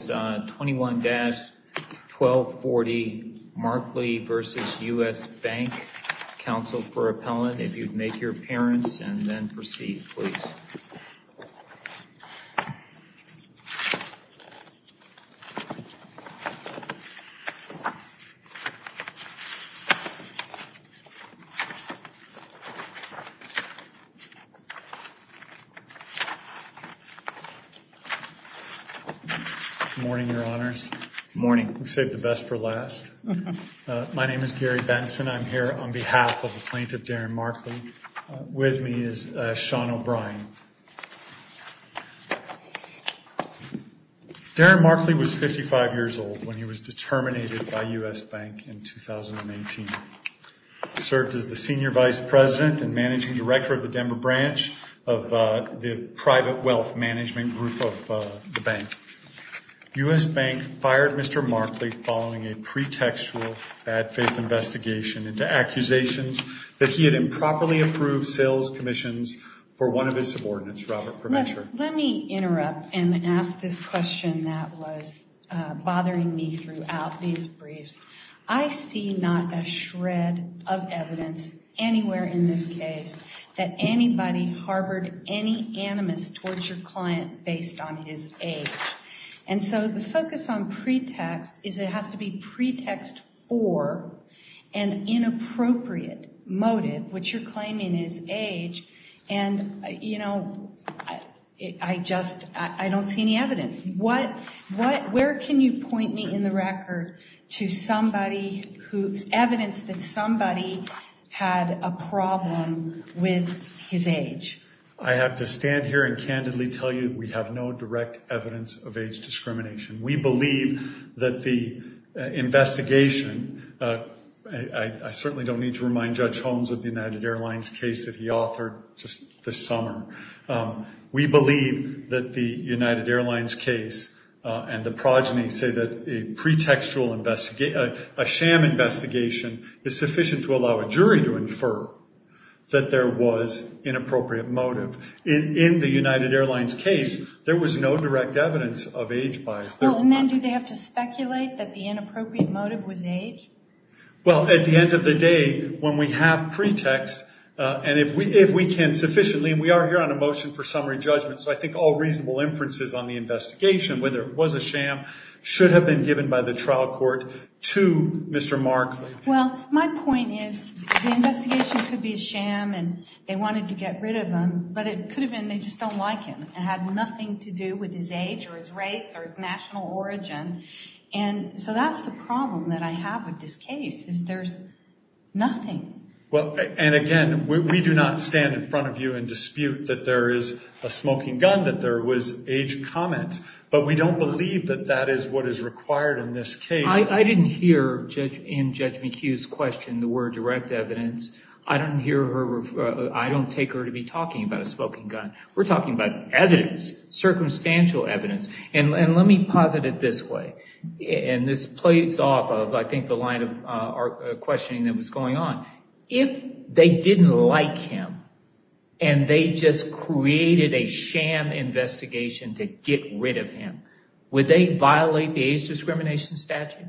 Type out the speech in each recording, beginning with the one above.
Council for appellate. If you would make your appearance and then proceed, please. Morning, your honors. Morning. We've saved the best for last. My name is Gary Benson. I'm here on behalf of the plaintiff, Darren Markley. With me is Sean O'Brien. Darren Markley was 55 years old when he was determinated by U.S. Bank in 2018. He served as the senior vice president and managing director of the Denver branch of the private wealth management group of the bank. U.S. Bank fired Mr. Markley following a pretextual bad faith investigation into accusations that he had improperly approved sales commissions for one of his subordinates, Robert Provencher. Let me interrupt and ask this question that was bothering me throughout these briefs. I see not a shred of evidence anywhere in this case that anybody harbored any animus towards your client based on his age. And so the focus on pretext is it has to be pretext for an inappropriate motive, which you're claiming is age. And, you know, I just I don't see any evidence. What what where can you point me in the record to somebody whose evidence that somebody had a problem with his age? I have to stand here and candidly tell you we have no direct evidence of age discrimination. We believe that the investigation. I certainly don't need to remind Judge Holmes of the United Airlines case that he authored just this summer. We believe that the United Airlines case and the progeny say that a pretextual investigation, a sham investigation is sufficient to allow a jury to infer that there was inappropriate motive in the United Airlines case. There was no direct evidence of age bias. And then do they have to speculate that the inappropriate motive was age? Well, at the end of the day, when we have pretext and if we if we can sufficiently, we are here on a motion for summary judgment. So I think all reasonable inferences on the investigation, whether it was a sham, should have been given by the trial court to Mr. Markley. Well, my point is the investigation could be a sham and they wanted to get rid of him, but it could have been they just don't like him. It had nothing to do with his age or his race or his national origin. And so that's the problem that I have with this case is there's nothing. Well, and again, we do not stand in front of you and dispute that there is a smoking gun, that there was age comments. But we don't believe that that is what is required in this case. I didn't hear in Judge McHugh's question the word direct evidence. I don't hear her. I don't take her to be talking about a smoking gun. We're talking about evidence, circumstantial evidence. And let me posit it this way. And this plays off of, I think, the line of questioning that was going on. If they didn't like him and they just created a sham investigation to get rid of him, would they violate the age discrimination statute?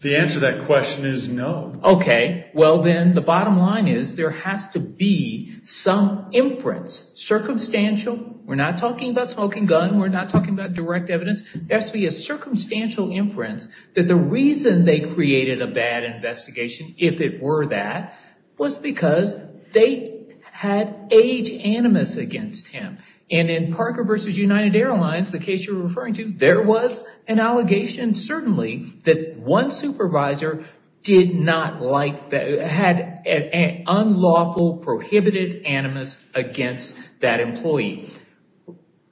The answer to that question is no. OK, well, then the bottom line is there has to be some inference, circumstantial. We're not talking about smoking gun. We're not talking about direct evidence. There has to be a circumstantial inference that the reason they created a bad investigation, if it were that, was because they had age animus against him. And in Parker v. United Airlines, the case you're referring to, there was an allegation, certainly, that one supervisor had an unlawful prohibited animus against that employee.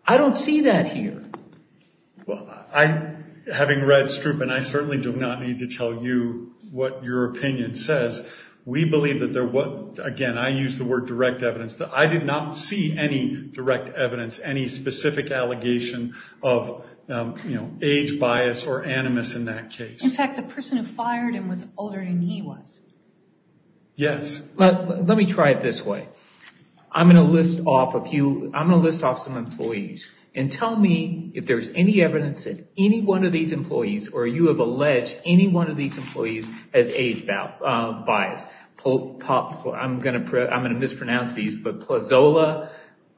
I don't see that here. Well, having read Stroop and I certainly do not need to tell you what your opinion says. We believe that there was, again, I use the word direct evidence. I did not see any direct evidence, any specific allegation of age bias or animus in that case. In fact, the person who fired him was older than he was. Yes. Let me try it this way. I'm going to list off a few. I'm going to list off some employees and tell me if there's any evidence that any one of these employees or you have alleged any one of these employees has age bias. I'm going to mispronounce these. But Plazola,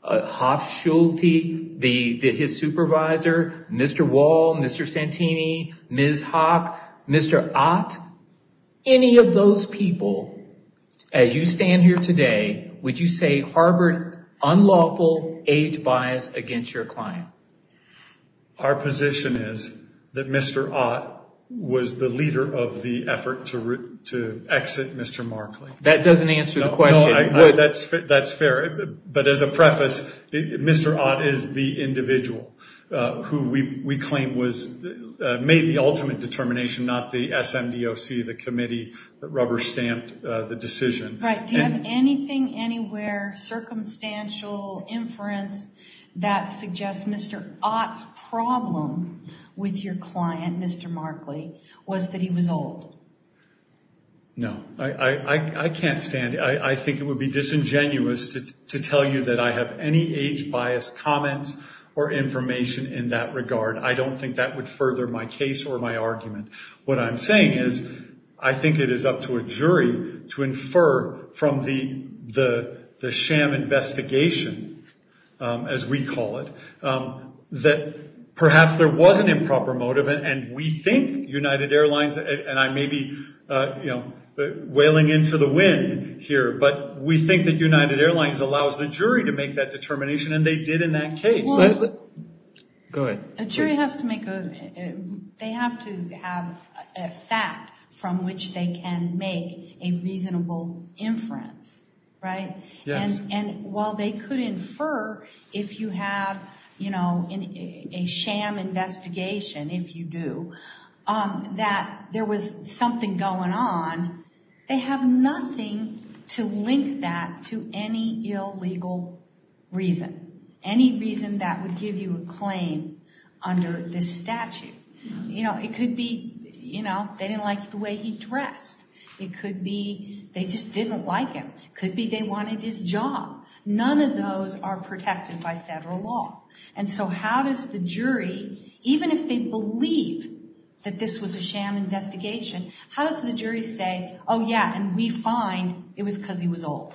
Hof Schulte, his supervisor, Mr. Wall, Mr. Santini, Ms. Hawk, Mr. Ott, any of those people, as you stand here today, would you say harbored unlawful age bias against your client? Our position is that Mr. Ott was the leader of the effort to exit Mr. Markley. That doesn't answer the question. That's fair. But as a preface, Mr. Ott is the individual who we claim made the ultimate determination, not the SMDOC, the committee that rubber-stamped the decision. Do you have anything, anywhere, circumstantial inference that suggests Mr. Ott's problem with your client, Mr. Markley, was that he was old? No. I can't stand it. I think it would be disingenuous to tell you that I have any age bias comments or information in that regard. I don't think that would further my case or my argument. What I'm saying is I think it is up to a jury to infer from the sham investigation, as we call it, that perhaps there was an improper motive, and we think United Airlines, and I may be wailing into the wind here, but we think that United Airlines allows the jury to make that determination, and they did in that case. Go ahead. A jury has to make a, they have to have a fact from which they can make a reasonable inference, right? Yes. And while they could infer, if you have a sham investigation, if you do, that there was something going on, they have nothing to link that to any illegal reason, any reason that would give you a claim under this statute. It could be they didn't like the way he dressed. It could be they just didn't like him. It could be they wanted his job. None of those are protected by federal law. And so how does the jury, even if they believe that this was a sham investigation, how does the jury say, oh, yeah, and we find it was because he was old?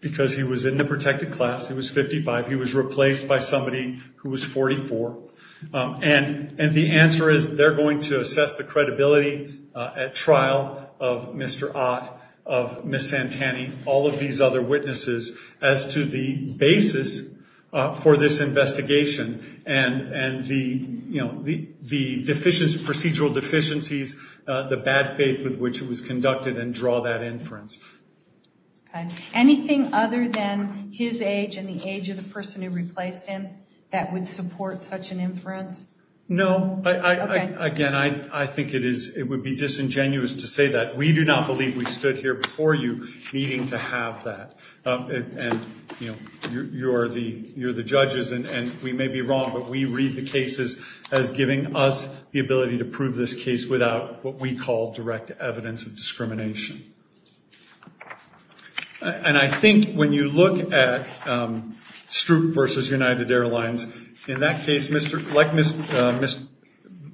Because he was in the protected class. He was 55. He was replaced by somebody who was 44. And the answer is they're going to assess the credibility at trial of Mr. Ott, of Ms. Santani, all of these other witnesses, as to the basis for this investigation and the procedural deficiencies, the bad faith with which it was conducted, and draw that inference. Anything other than his age and the age of the person who replaced him that would support such an inference? No. Again, I think it would be disingenuous to say that. We do not believe we stood here before you needing to have that. And, you know, you're the judges, and we may be wrong, but we read the cases as giving us the ability to prove this case without what we call direct evidence of discrimination. And I think when you look at Stroop versus United Airlines, in that case,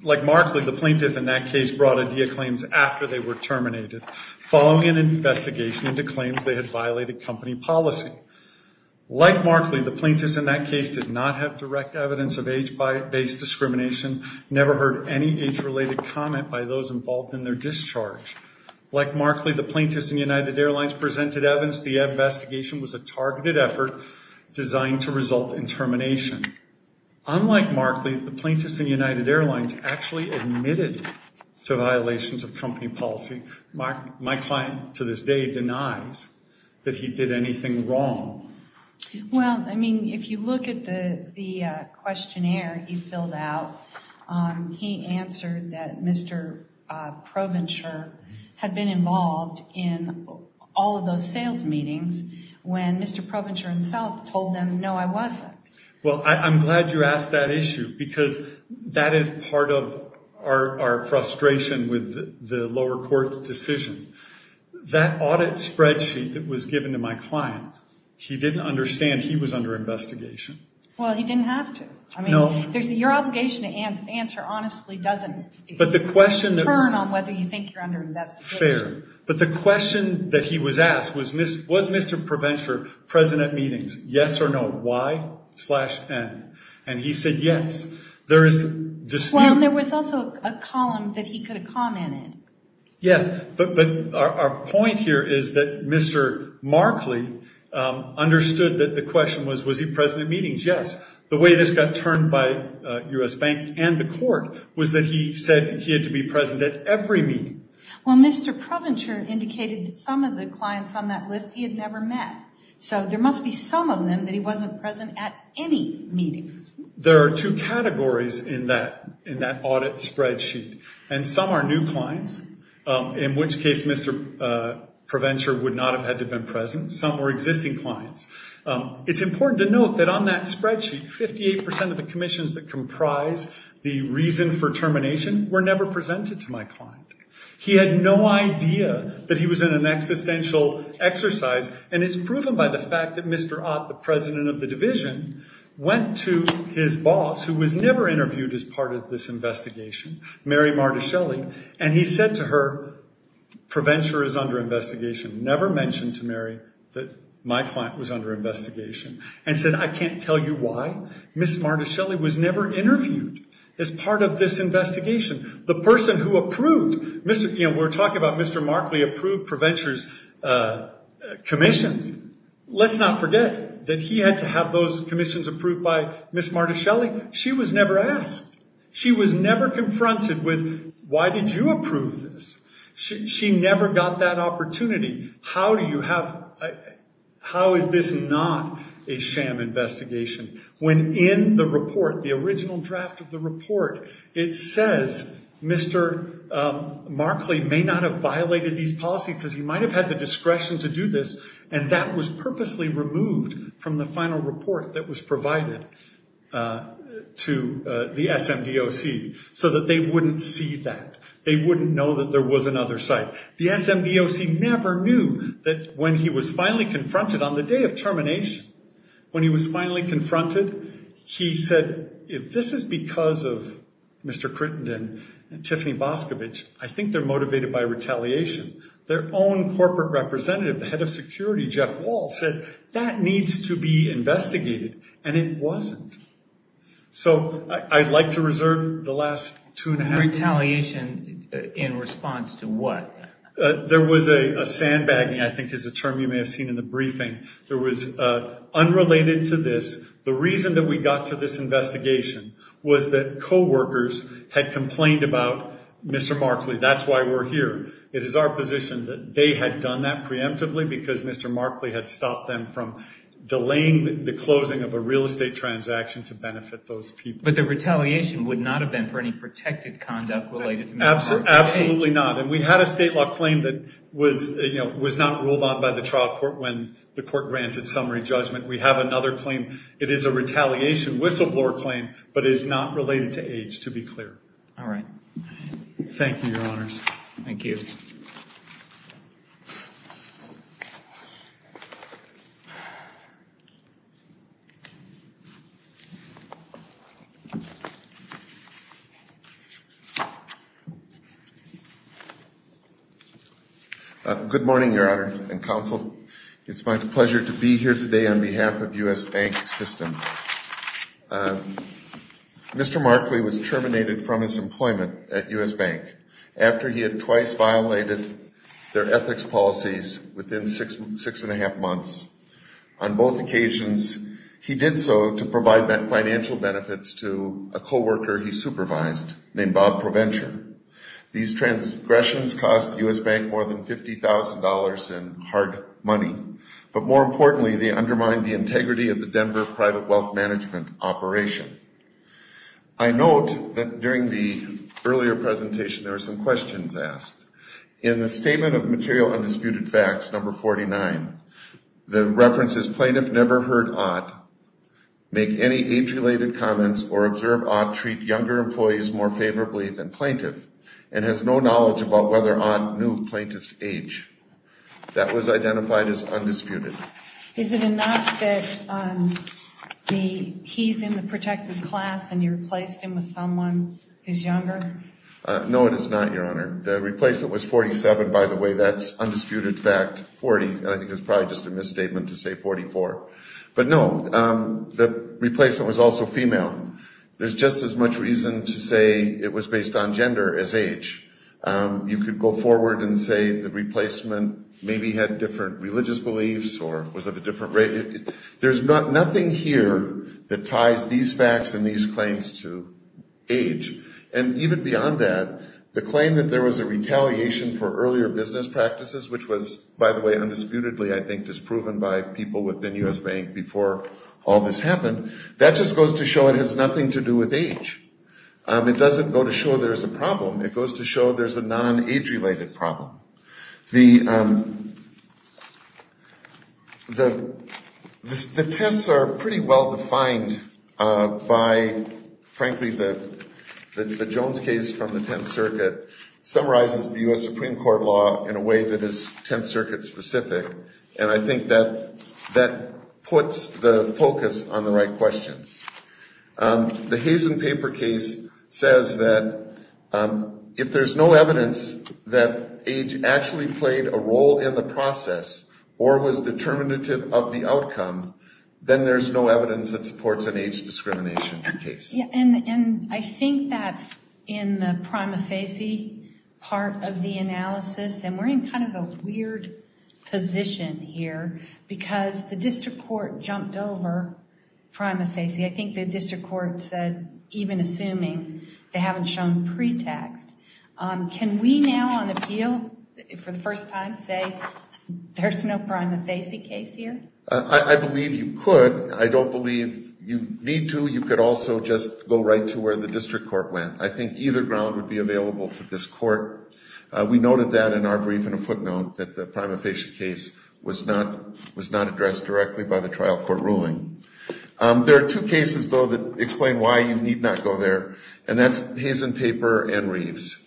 like Markley, the plaintiff in that case brought idea claims after they were terminated, following an investigation into claims they had violated company policy. Like Markley, the plaintiffs in that case did not have direct evidence of age-based discrimination, never heard any age-related comment by those involved in their discharge. Like Markley, the plaintiffs in United Airlines presented evidence the investigation was a targeted effort designed to result in termination. Unlike Markley, the plaintiffs in United Airlines actually admitted to violations of company policy. My client, to this day, denies that he did anything wrong. Well, I mean, if you look at the questionnaire he filled out, he answered that Mr. Provencher had been involved in all of those sales meetings when Mr. Provencher himself told them, no, I wasn't. Well, I'm glad you asked that issue because that is part of our frustration with the lower court's decision. That audit spreadsheet that was given to my client, he didn't understand he was under investigation. Well, he didn't have to. I mean, your obligation to answer honestly doesn't turn on whether you think you're under investigation. Fair. But the question that he was asked was, was Mr. Provencher present at meetings, yes or no, Y slash N? And he said yes. Well, there was also a column that he could have commented. Yes, but our point here is that Mr. Markley understood that the question was, was he present at meetings? Yes. The way this got turned by U.S. Bank and the court was that he said he had to be present at every meeting. Well, Mr. Provencher indicated that some of the clients on that list he had never met. So there must be some of them that he wasn't present at any meetings. There are two categories in that audit spreadsheet. And some are new clients, in which case Mr. Provencher would not have had to have been present. Some were existing clients. It's important to note that on that spreadsheet, 58% of the commissions that comprise the reason for termination were never presented to my client. He had no idea that he was in an existential exercise. And it's proven by the fact that Mr. Ott, the president of the division, went to his boss, who was never interviewed as part of this investigation, Mary Martaschelli, and he said to her, Provencher is under investigation. Never mentioned to Mary that my client was under investigation and said, I can't tell you why. Ms. Martaschelli was never interviewed as part of this investigation. The person who approved, we're talking about Mr. Markley approved Provencher's commissions. Let's not forget that he had to have those commissions approved by Ms. Martaschelli. She was never asked. She was never confronted with, why did you approve this? She never got that opportunity. How is this not a sham investigation? When in the report, the original draft of the report, it says, Mr. Markley may not have violated these policies because he might have had the discretion to do this, and that was purposely removed from the final report that was provided to the SMDOC so that they wouldn't see that. They wouldn't know that there was another site. The SMDOC never knew that when he was finally confronted on the day of termination, when he was finally confronted, he said, if this is because of Mr. Crittenden and Tiffany Boscovich, I think they're motivated by retaliation. Their own corporate representative, the head of security, Jeff Walsh, said that needs to be investigated, and it wasn't. I'd like to reserve the last two and a half minutes. Retaliation in response to what? There was a sandbagging, I think is a term you may have seen in the briefing. The reason that we got to this investigation was that coworkers had complained about Mr. Markley. That's why we're here. It is our position that they had done that preemptively because Mr. Markley had stopped them from delaying the closing of a real estate transaction to benefit those people. But the retaliation would not have been for any protected conduct related to Mr. Markley. Absolutely not. And we had a state law claim that was not ruled on by the trial court when the court granted summary judgment. We have another claim. It is a retaliation whistleblower claim, but it is not related to age, to be clear. All right. Thank you, Your Honors. Good morning, Your Honors and Counsel. It's my pleasure to be here today on behalf of U.S. Bank System. Mr. Markley was terminated from his employment at U.S. Bank after he had twice violated their ethics policies within six and a half months. On both occasions, he did so to provide financial benefits to a coworker he supervised named Bob ProVenture. These transgressions cost U.S. Bank more than $50,000 in hard money. But more importantly, they undermine the integrity of the Denver Private Wealth Management operation. I note that during the earlier presentation there were some questions asked. In the statement of material undisputed facts, number 49, the reference is plaintiff never heard ought, make any age-related comments, or observe ought treat younger employees more favorably than plaintiff and has no knowledge about whether ought knew plaintiff's age. That was identified as undisputed. Is it enough that he's in the protected class and you replaced him with someone who's younger? No, it is not, Your Honor. The replacement was 47, by the way. That's undisputed fact 40. I think it's probably just a misstatement to say 44. But no, the replacement was also female. There's just as much reason to say it was based on gender as age. You could go forward and say the replacement maybe had different religious beliefs or was of a different race. There's nothing here that ties these facts and these claims to age. And even beyond that, the claim that there was a retaliation for earlier business practices, which was, by the way, undisputedly I think disproven by people within U.S. Bank before all this happened, that just goes to show it has nothing to do with age. It doesn't go to show there's a problem. It goes to show there's a non-age-related problem. The tests are pretty well defined by, frankly, the Jones case from the Tenth Circuit summarizes the U.S. Supreme Court law in a way that is Tenth Circuit specific, and I think that puts the focus on the right questions. The Hazen paper case says that if there's no evidence that age is actually played a role in the process or was determinative of the outcome, then there's no evidence that supports an age discrimination case. And I think that's in the prima facie part of the analysis, and we're in kind of a weird position here because the district court jumped over prima facie. I think the district court said, even assuming they haven't shown pretext, can we now on appeal for the first time say there's no prima facie case here? I believe you could. I don't believe you need to. You could also just go right to where the district court went. I think either ground would be available to this court. We noted that in our brief in a footnote that the prima facie case was not addressed directly by the trial court ruling. There are two cases, though, that explain why you need not go there, and that's Hazen paper and Reeves.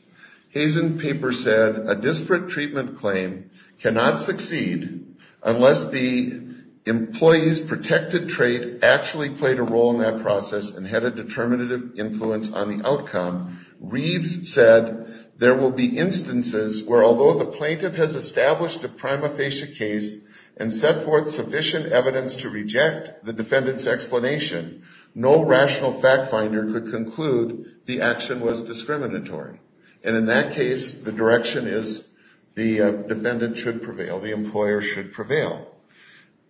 Hazen paper said a disparate treatment claim cannot succeed unless the employee's protected trait actually played a role in that process and had a determinative influence on the outcome. Reeves said there will be instances where although the plaintiff has established a prima facie case and set forth sufficient evidence to reject the defendant's explanation, no rational fact finder could conclude the action was discriminatory, and in that case the direction is the defendant should prevail, the employer should prevail.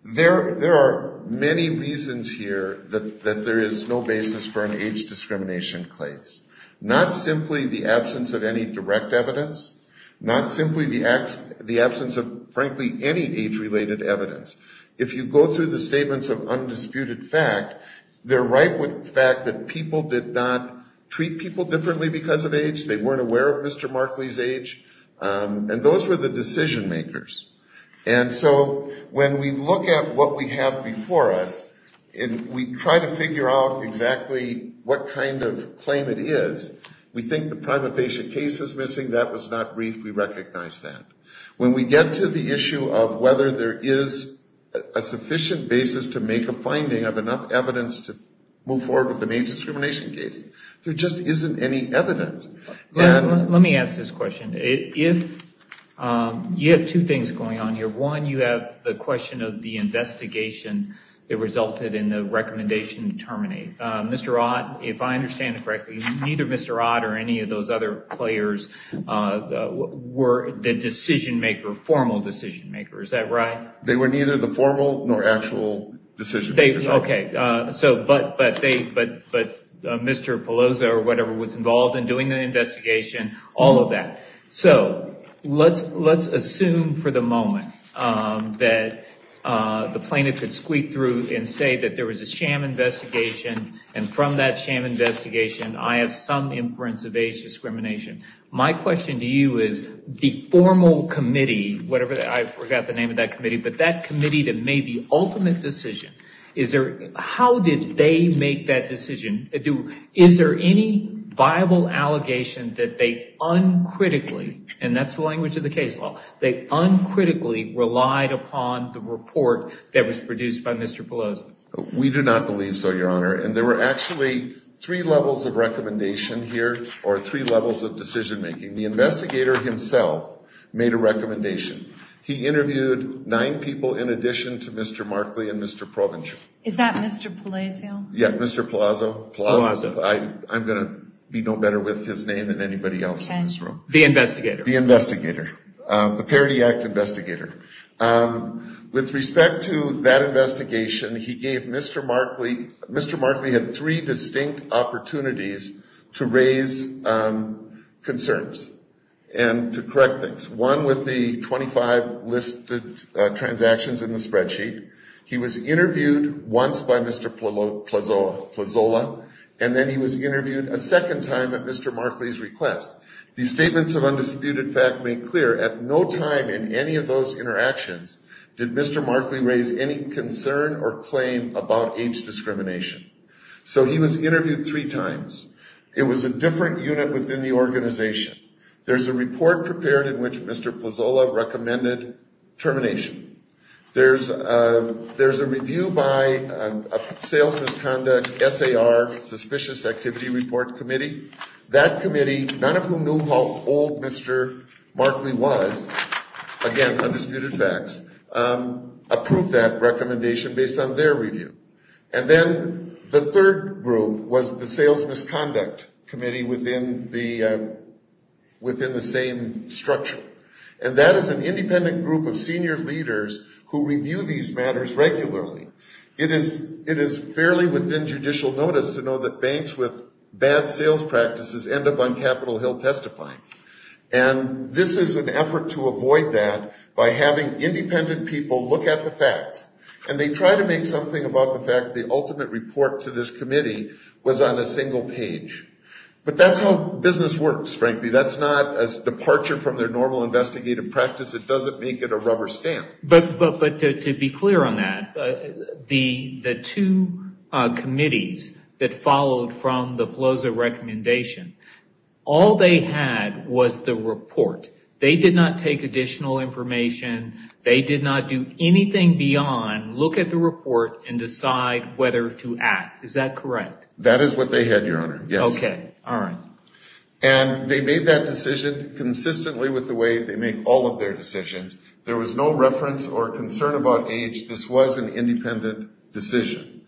There are many reasons here that there is no basis for an age discrimination case, not simply the absence of any direct evidence, not simply the absence of, frankly, any age-related evidence. If you go through the statements of undisputed fact, they're ripe with the fact that people did not treat people differently because of age, they weren't aware of Mr. Markley's age, and those were the decision makers. And so when we look at what we have before us and we try to figure out exactly what kind of claim it is, we think the prima facie case is missing, that was not briefed, we recognize that. When we get to the issue of whether there is a sufficient basis to make a finding of enough evidence to move forward with an age discrimination case, there just isn't any evidence. Let me ask this question. You have two things going on here. One, you have the question of the investigation that resulted in the recommendation to terminate. Mr. Ott, if I understand it correctly, neither Mr. Ott or any of those other players, were the decision maker, formal decision maker, is that right? They were neither the formal nor actual decision makers. But Mr. Peloso or whatever was involved in doing the investigation, all of that. So let's assume for the moment that the plaintiff could squeak through and say that there was a sham investigation, and from that sham investigation I have some inference of age discrimination. My question to you is the formal committee, whatever, I forgot the name of that committee, but that committee that made the ultimate decision, how did they make that decision? Is there any viable allegation that they uncritically, and that's the language of the case law, they uncritically relied upon the report that was produced by Mr. Peloso? We do not believe so, Your Honor, and there were actually three levels of recommendation here, or three levels of decision making. The investigator himself made a recommendation. He interviewed nine people in addition to Mr. Markley and Mr. Provencher. Is that Mr. Peloso? Yeah, Mr. Peloso. I'm going to be no better with his name than anybody else in this room. The investigator. The investigator. The Parity Act investigator. With respect to that investigation, he gave Mr. Markley, Mr. Markley had three distinct opportunities to raise concerns and to correct things. One with the 25 listed transactions in the spreadsheet. He was interviewed once by Mr. Peloso, and then he was interviewed a second time at Mr. Markley's request. The statements of undisputed fact make clear at no time in any of those interactions did Mr. Markley raise any concern or claim about age discrimination. So he was interviewed three times. It was a different unit within the organization. There's a report prepared in which Mr. Peloso recommended termination. There's a review by a sales misconduct SAR, suspicious activity report committee. That committee, none of whom knew how old Mr. Markley was, again, undisputed facts, approved that recommendation based on their review. And then the third group was the sales misconduct committee within the same structure. And that is an independent group of senior leaders who review these matters regularly. It is fairly within judicial notice to know that banks with bad sales practices end up on Capitol Hill testifying. And this is an effort to avoid that by having independent people look at the facts. And they try to make something about the fact the ultimate report to this committee was on a single page. But that's how business works, frankly. That's not a departure from their normal investigative practice. It doesn't make it a rubber stamp. But to be clear on that, the two committees that followed from the Peloso recommendation, all they had was the report. They did not take additional information. They did not do anything beyond look at the report and decide whether to act. Is that correct? That is what they had, Your Honor. Okay. All right. And they made that decision consistently with the way they make all of their decisions. There was no reference or concern about age. This was an independent decision.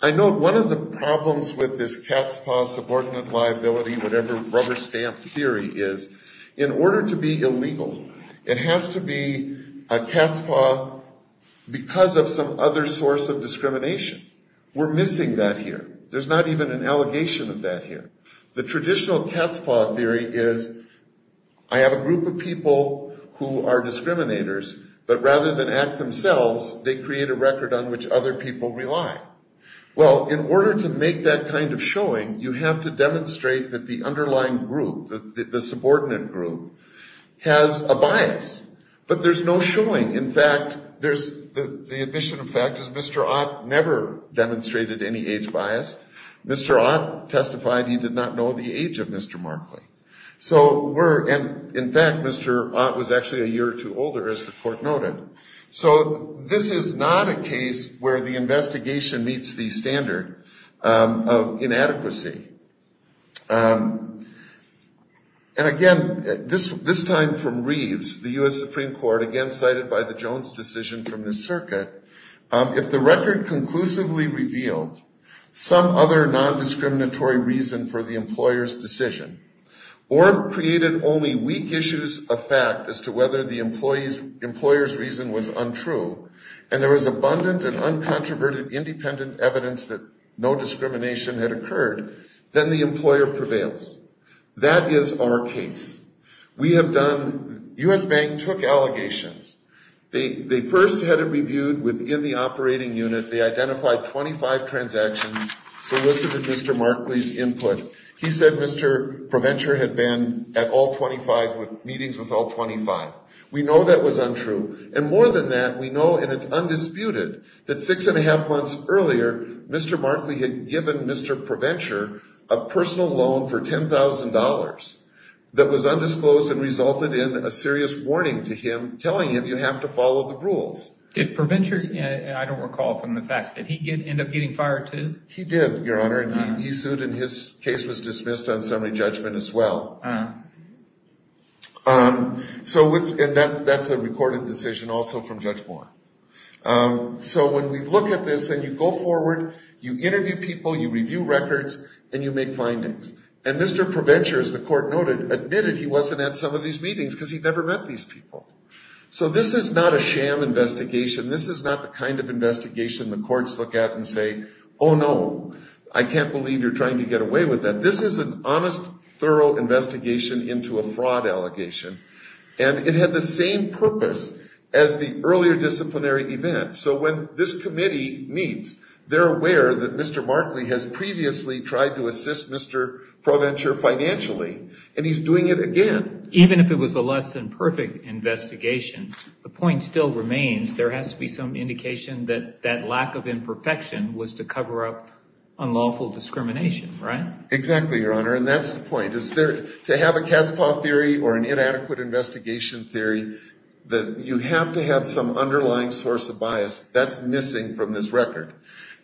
I note one of the problems with this cat's paw subordinate liability, whatever rubber stamp theory is, in order to be illegal, it has to be a cat's paw because of some other source of discrimination. We're missing that here. There's not even an allegation of that here. The traditional cat's paw theory is I have a group of people who are discriminators, but rather than act themselves, they create a record on which other people rely. Well, in order to make that kind of showing, you have to demonstrate that the underlying group, the subordinate group, has a bias. But there's no showing. In fact, the admission of fact is Mr. Ott never demonstrated any age bias. Mr. Ott testified he did not know the age of Mr. Markley. And, in fact, Mr. Ott was actually a year or two older, as the court noted. So this is not a case where the investigation meets the standard of inadequacy. And, again, this time from Reeves, the U.S. Supreme Court, again cited by the Jones decision from this circuit, if the record conclusively revealed some other nondiscriminatory reason for the employer's decision or created only weak issues of fact as to whether the employer's reason was untrue and there was abundant and uncontroverted independent evidence that no discrimination had occurred, then the employer prevails. That is our case. We have done, U.S. Bank took allegations. They first had it reviewed within the operating unit. They identified 25 transactions, solicited Mr. Markley's input. He said Mr. ProVenture had been at meetings with all 25. We know that was untrue. And more than that, we know, and it's undisputed, that six and a half months earlier, Mr. Markley had given Mr. ProVenture a personal loan for $10,000 that was undisclosed and resulted in a serious warning to him telling him you have to follow the rules. Did ProVenture, I don't recall from the facts, did he end up getting fired too? He did, Your Honor, and he sued and his case was dismissed on summary judgment as well. And that's a recorded decision also from Judge Moore. So when we look at this and you go forward, you interview people, you review records, and you make findings. And Mr. ProVenture, as the court noted, admitted he wasn't at some of these meetings because he'd never met these people. So this is not a sham investigation. This is not the kind of investigation the courts look at and say, oh, no, I can't believe you're trying to get away with that. This is an honest, thorough investigation into a fraud allegation. And it had the same purpose as the earlier disciplinary event. So when this committee meets, they're aware that Mr. Markley has previously tried to assist Mr. ProVenture financially, and he's doing it again. Even if it was a less than perfect investigation, the point still remains there has to be some indication that that lack of imperfection was to cover up unlawful discrimination, right? Exactly, Your Honor, and that's the point. To have a cat's paw theory or an inadequate investigation theory, you have to have some underlying source of bias. That's missing from this record.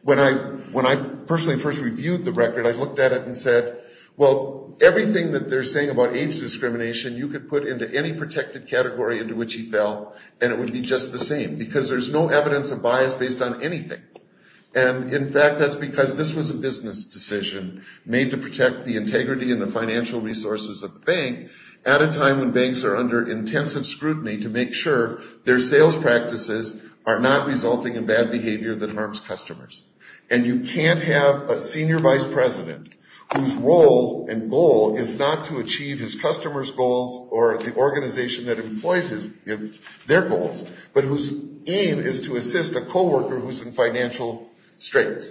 When I personally first reviewed the record, I looked at it and said, well, everything that they're saying about age discrimination, you could put into any protected category into which he fell, and it would be just the same. Because there's no evidence of bias based on anything. And, in fact, that's because this was a business decision made to protect the integrity and the financial resources of the bank at a time when banks are under intensive scrutiny to make sure their sales practices are not resulting in bad behavior that harms customers. And you can't have a senior vice president whose role and goal is not to achieve his customers' goals or the organization that employs their goals, but whose aim is to assist a coworker who's in financial straits.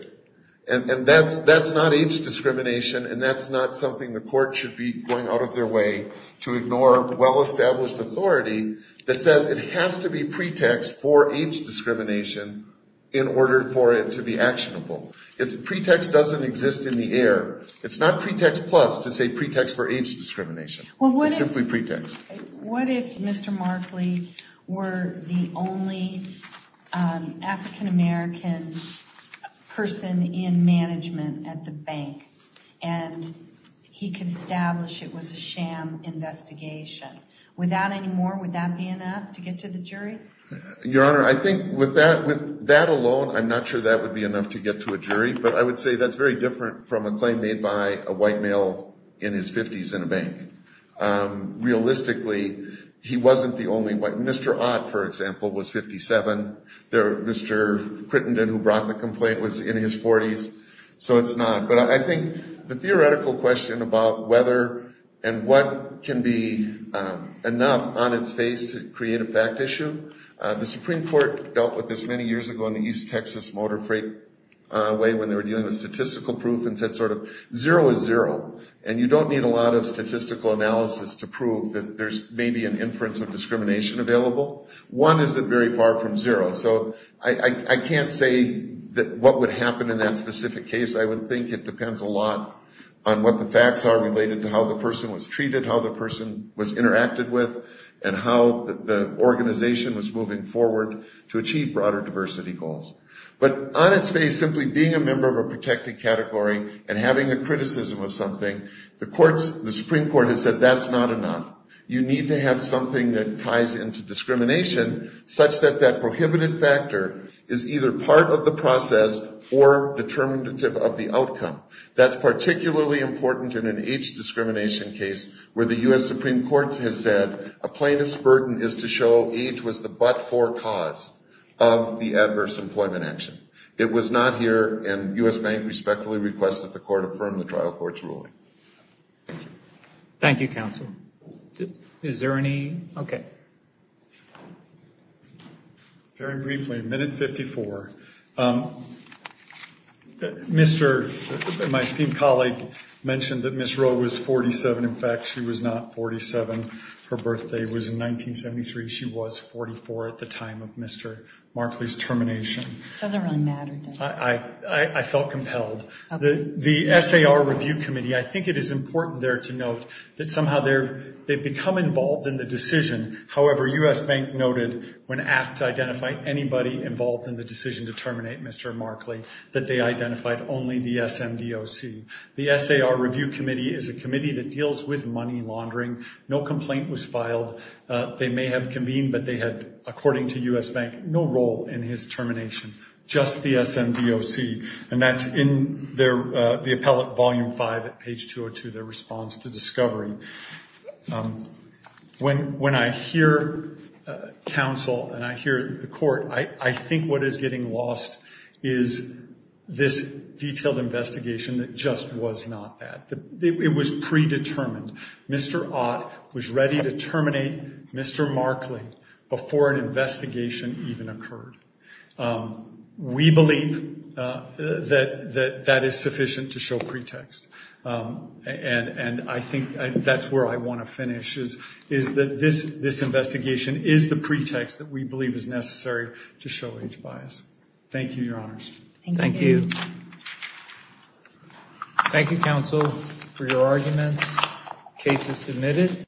And that's not age discrimination, and that's not something the court should be going out of their way to ignore well-established authority that says it has to be pretext for age discrimination in order for it to be actionable. Pretext doesn't exist in the air. It's not pretext plus to say pretext for age discrimination. It's simply pretext. What if Mr. Markley were the only African-American person in management at the bank and he could establish it was a sham investigation? Would that be enough to get to the jury? Your Honor, I think with that alone, I'm not sure that would be enough to get to a jury. But I would say that's very different from a claim made by a white male in his 50s in a bank. Realistically, he wasn't the only one. Mr. Ott, for example, was 57. Mr. Crittenden, who brought the complaint, was in his 40s. So it's not. But I think the theoretical question about whether and what can be enough on its face to create a fact issue, the Supreme Court dealt with this many years ago in the East Texas motor freight way when they were dealing with statistical proof and said sort of zero is zero. And you don't need a lot of statistical analysis to prove that there's maybe an inference of discrimination available. One isn't very far from zero. So I can't say what would happen in that specific case. I would think it depends a lot on what the facts are related to how the person was treated, how the person was interacted with, and how the organization was moving forward to achieve broader diversity goals. But on its face, simply being a member of a protected category and having a criticism of something, the Supreme Court has said that's not enough. You need to have something that ties into discrimination such that that prohibited factor is either part of the process or determinative of the outcome. That's particularly important in an age discrimination case where the U.S. Supreme Court has said a plaintiff's burden is to show age was the but-for cause of the adverse employment action. It was not here, and U.S. Bank respectfully requests that the court affirm the trial court's ruling. Thank you. Thank you, counsel. Is there any? Okay. Very briefly, Minute 54. My esteemed colleague mentioned that Ms. Rowe was 47. In fact, she was not 47. Her birthday was in 1973. She was 44 at the time of Mr. Markley's termination. It doesn't really matter, does it? I felt compelled. The SAR Review Committee, I think it is important there to note that somehow they've become involved in the decision. However, U.S. Bank noted when asked to identify anybody involved in the decision to terminate Mr. Markley that they identified only the SMDOC. The SAR Review Committee is a committee that deals with money laundering. No complaint was filed. They may have convened, but they had, according to U.S. Bank, no role in his termination, just the SMDOC, and that's in the appellate volume 5 at page 202, their response to discovery. When I hear counsel and I hear the court, I think what is getting lost is this detailed investigation that just was not that. It was predetermined. Mr. Ott was ready to terminate Mr. Markley before an investigation even occurred. We believe that that is sufficient to show pretext. And I think that's where I want to finish, is that this investigation is the pretext that we believe is necessary to show age bias. Thank you, Your Honors. Thank you. Thank you, counsel, for your arguments. Case is submitted.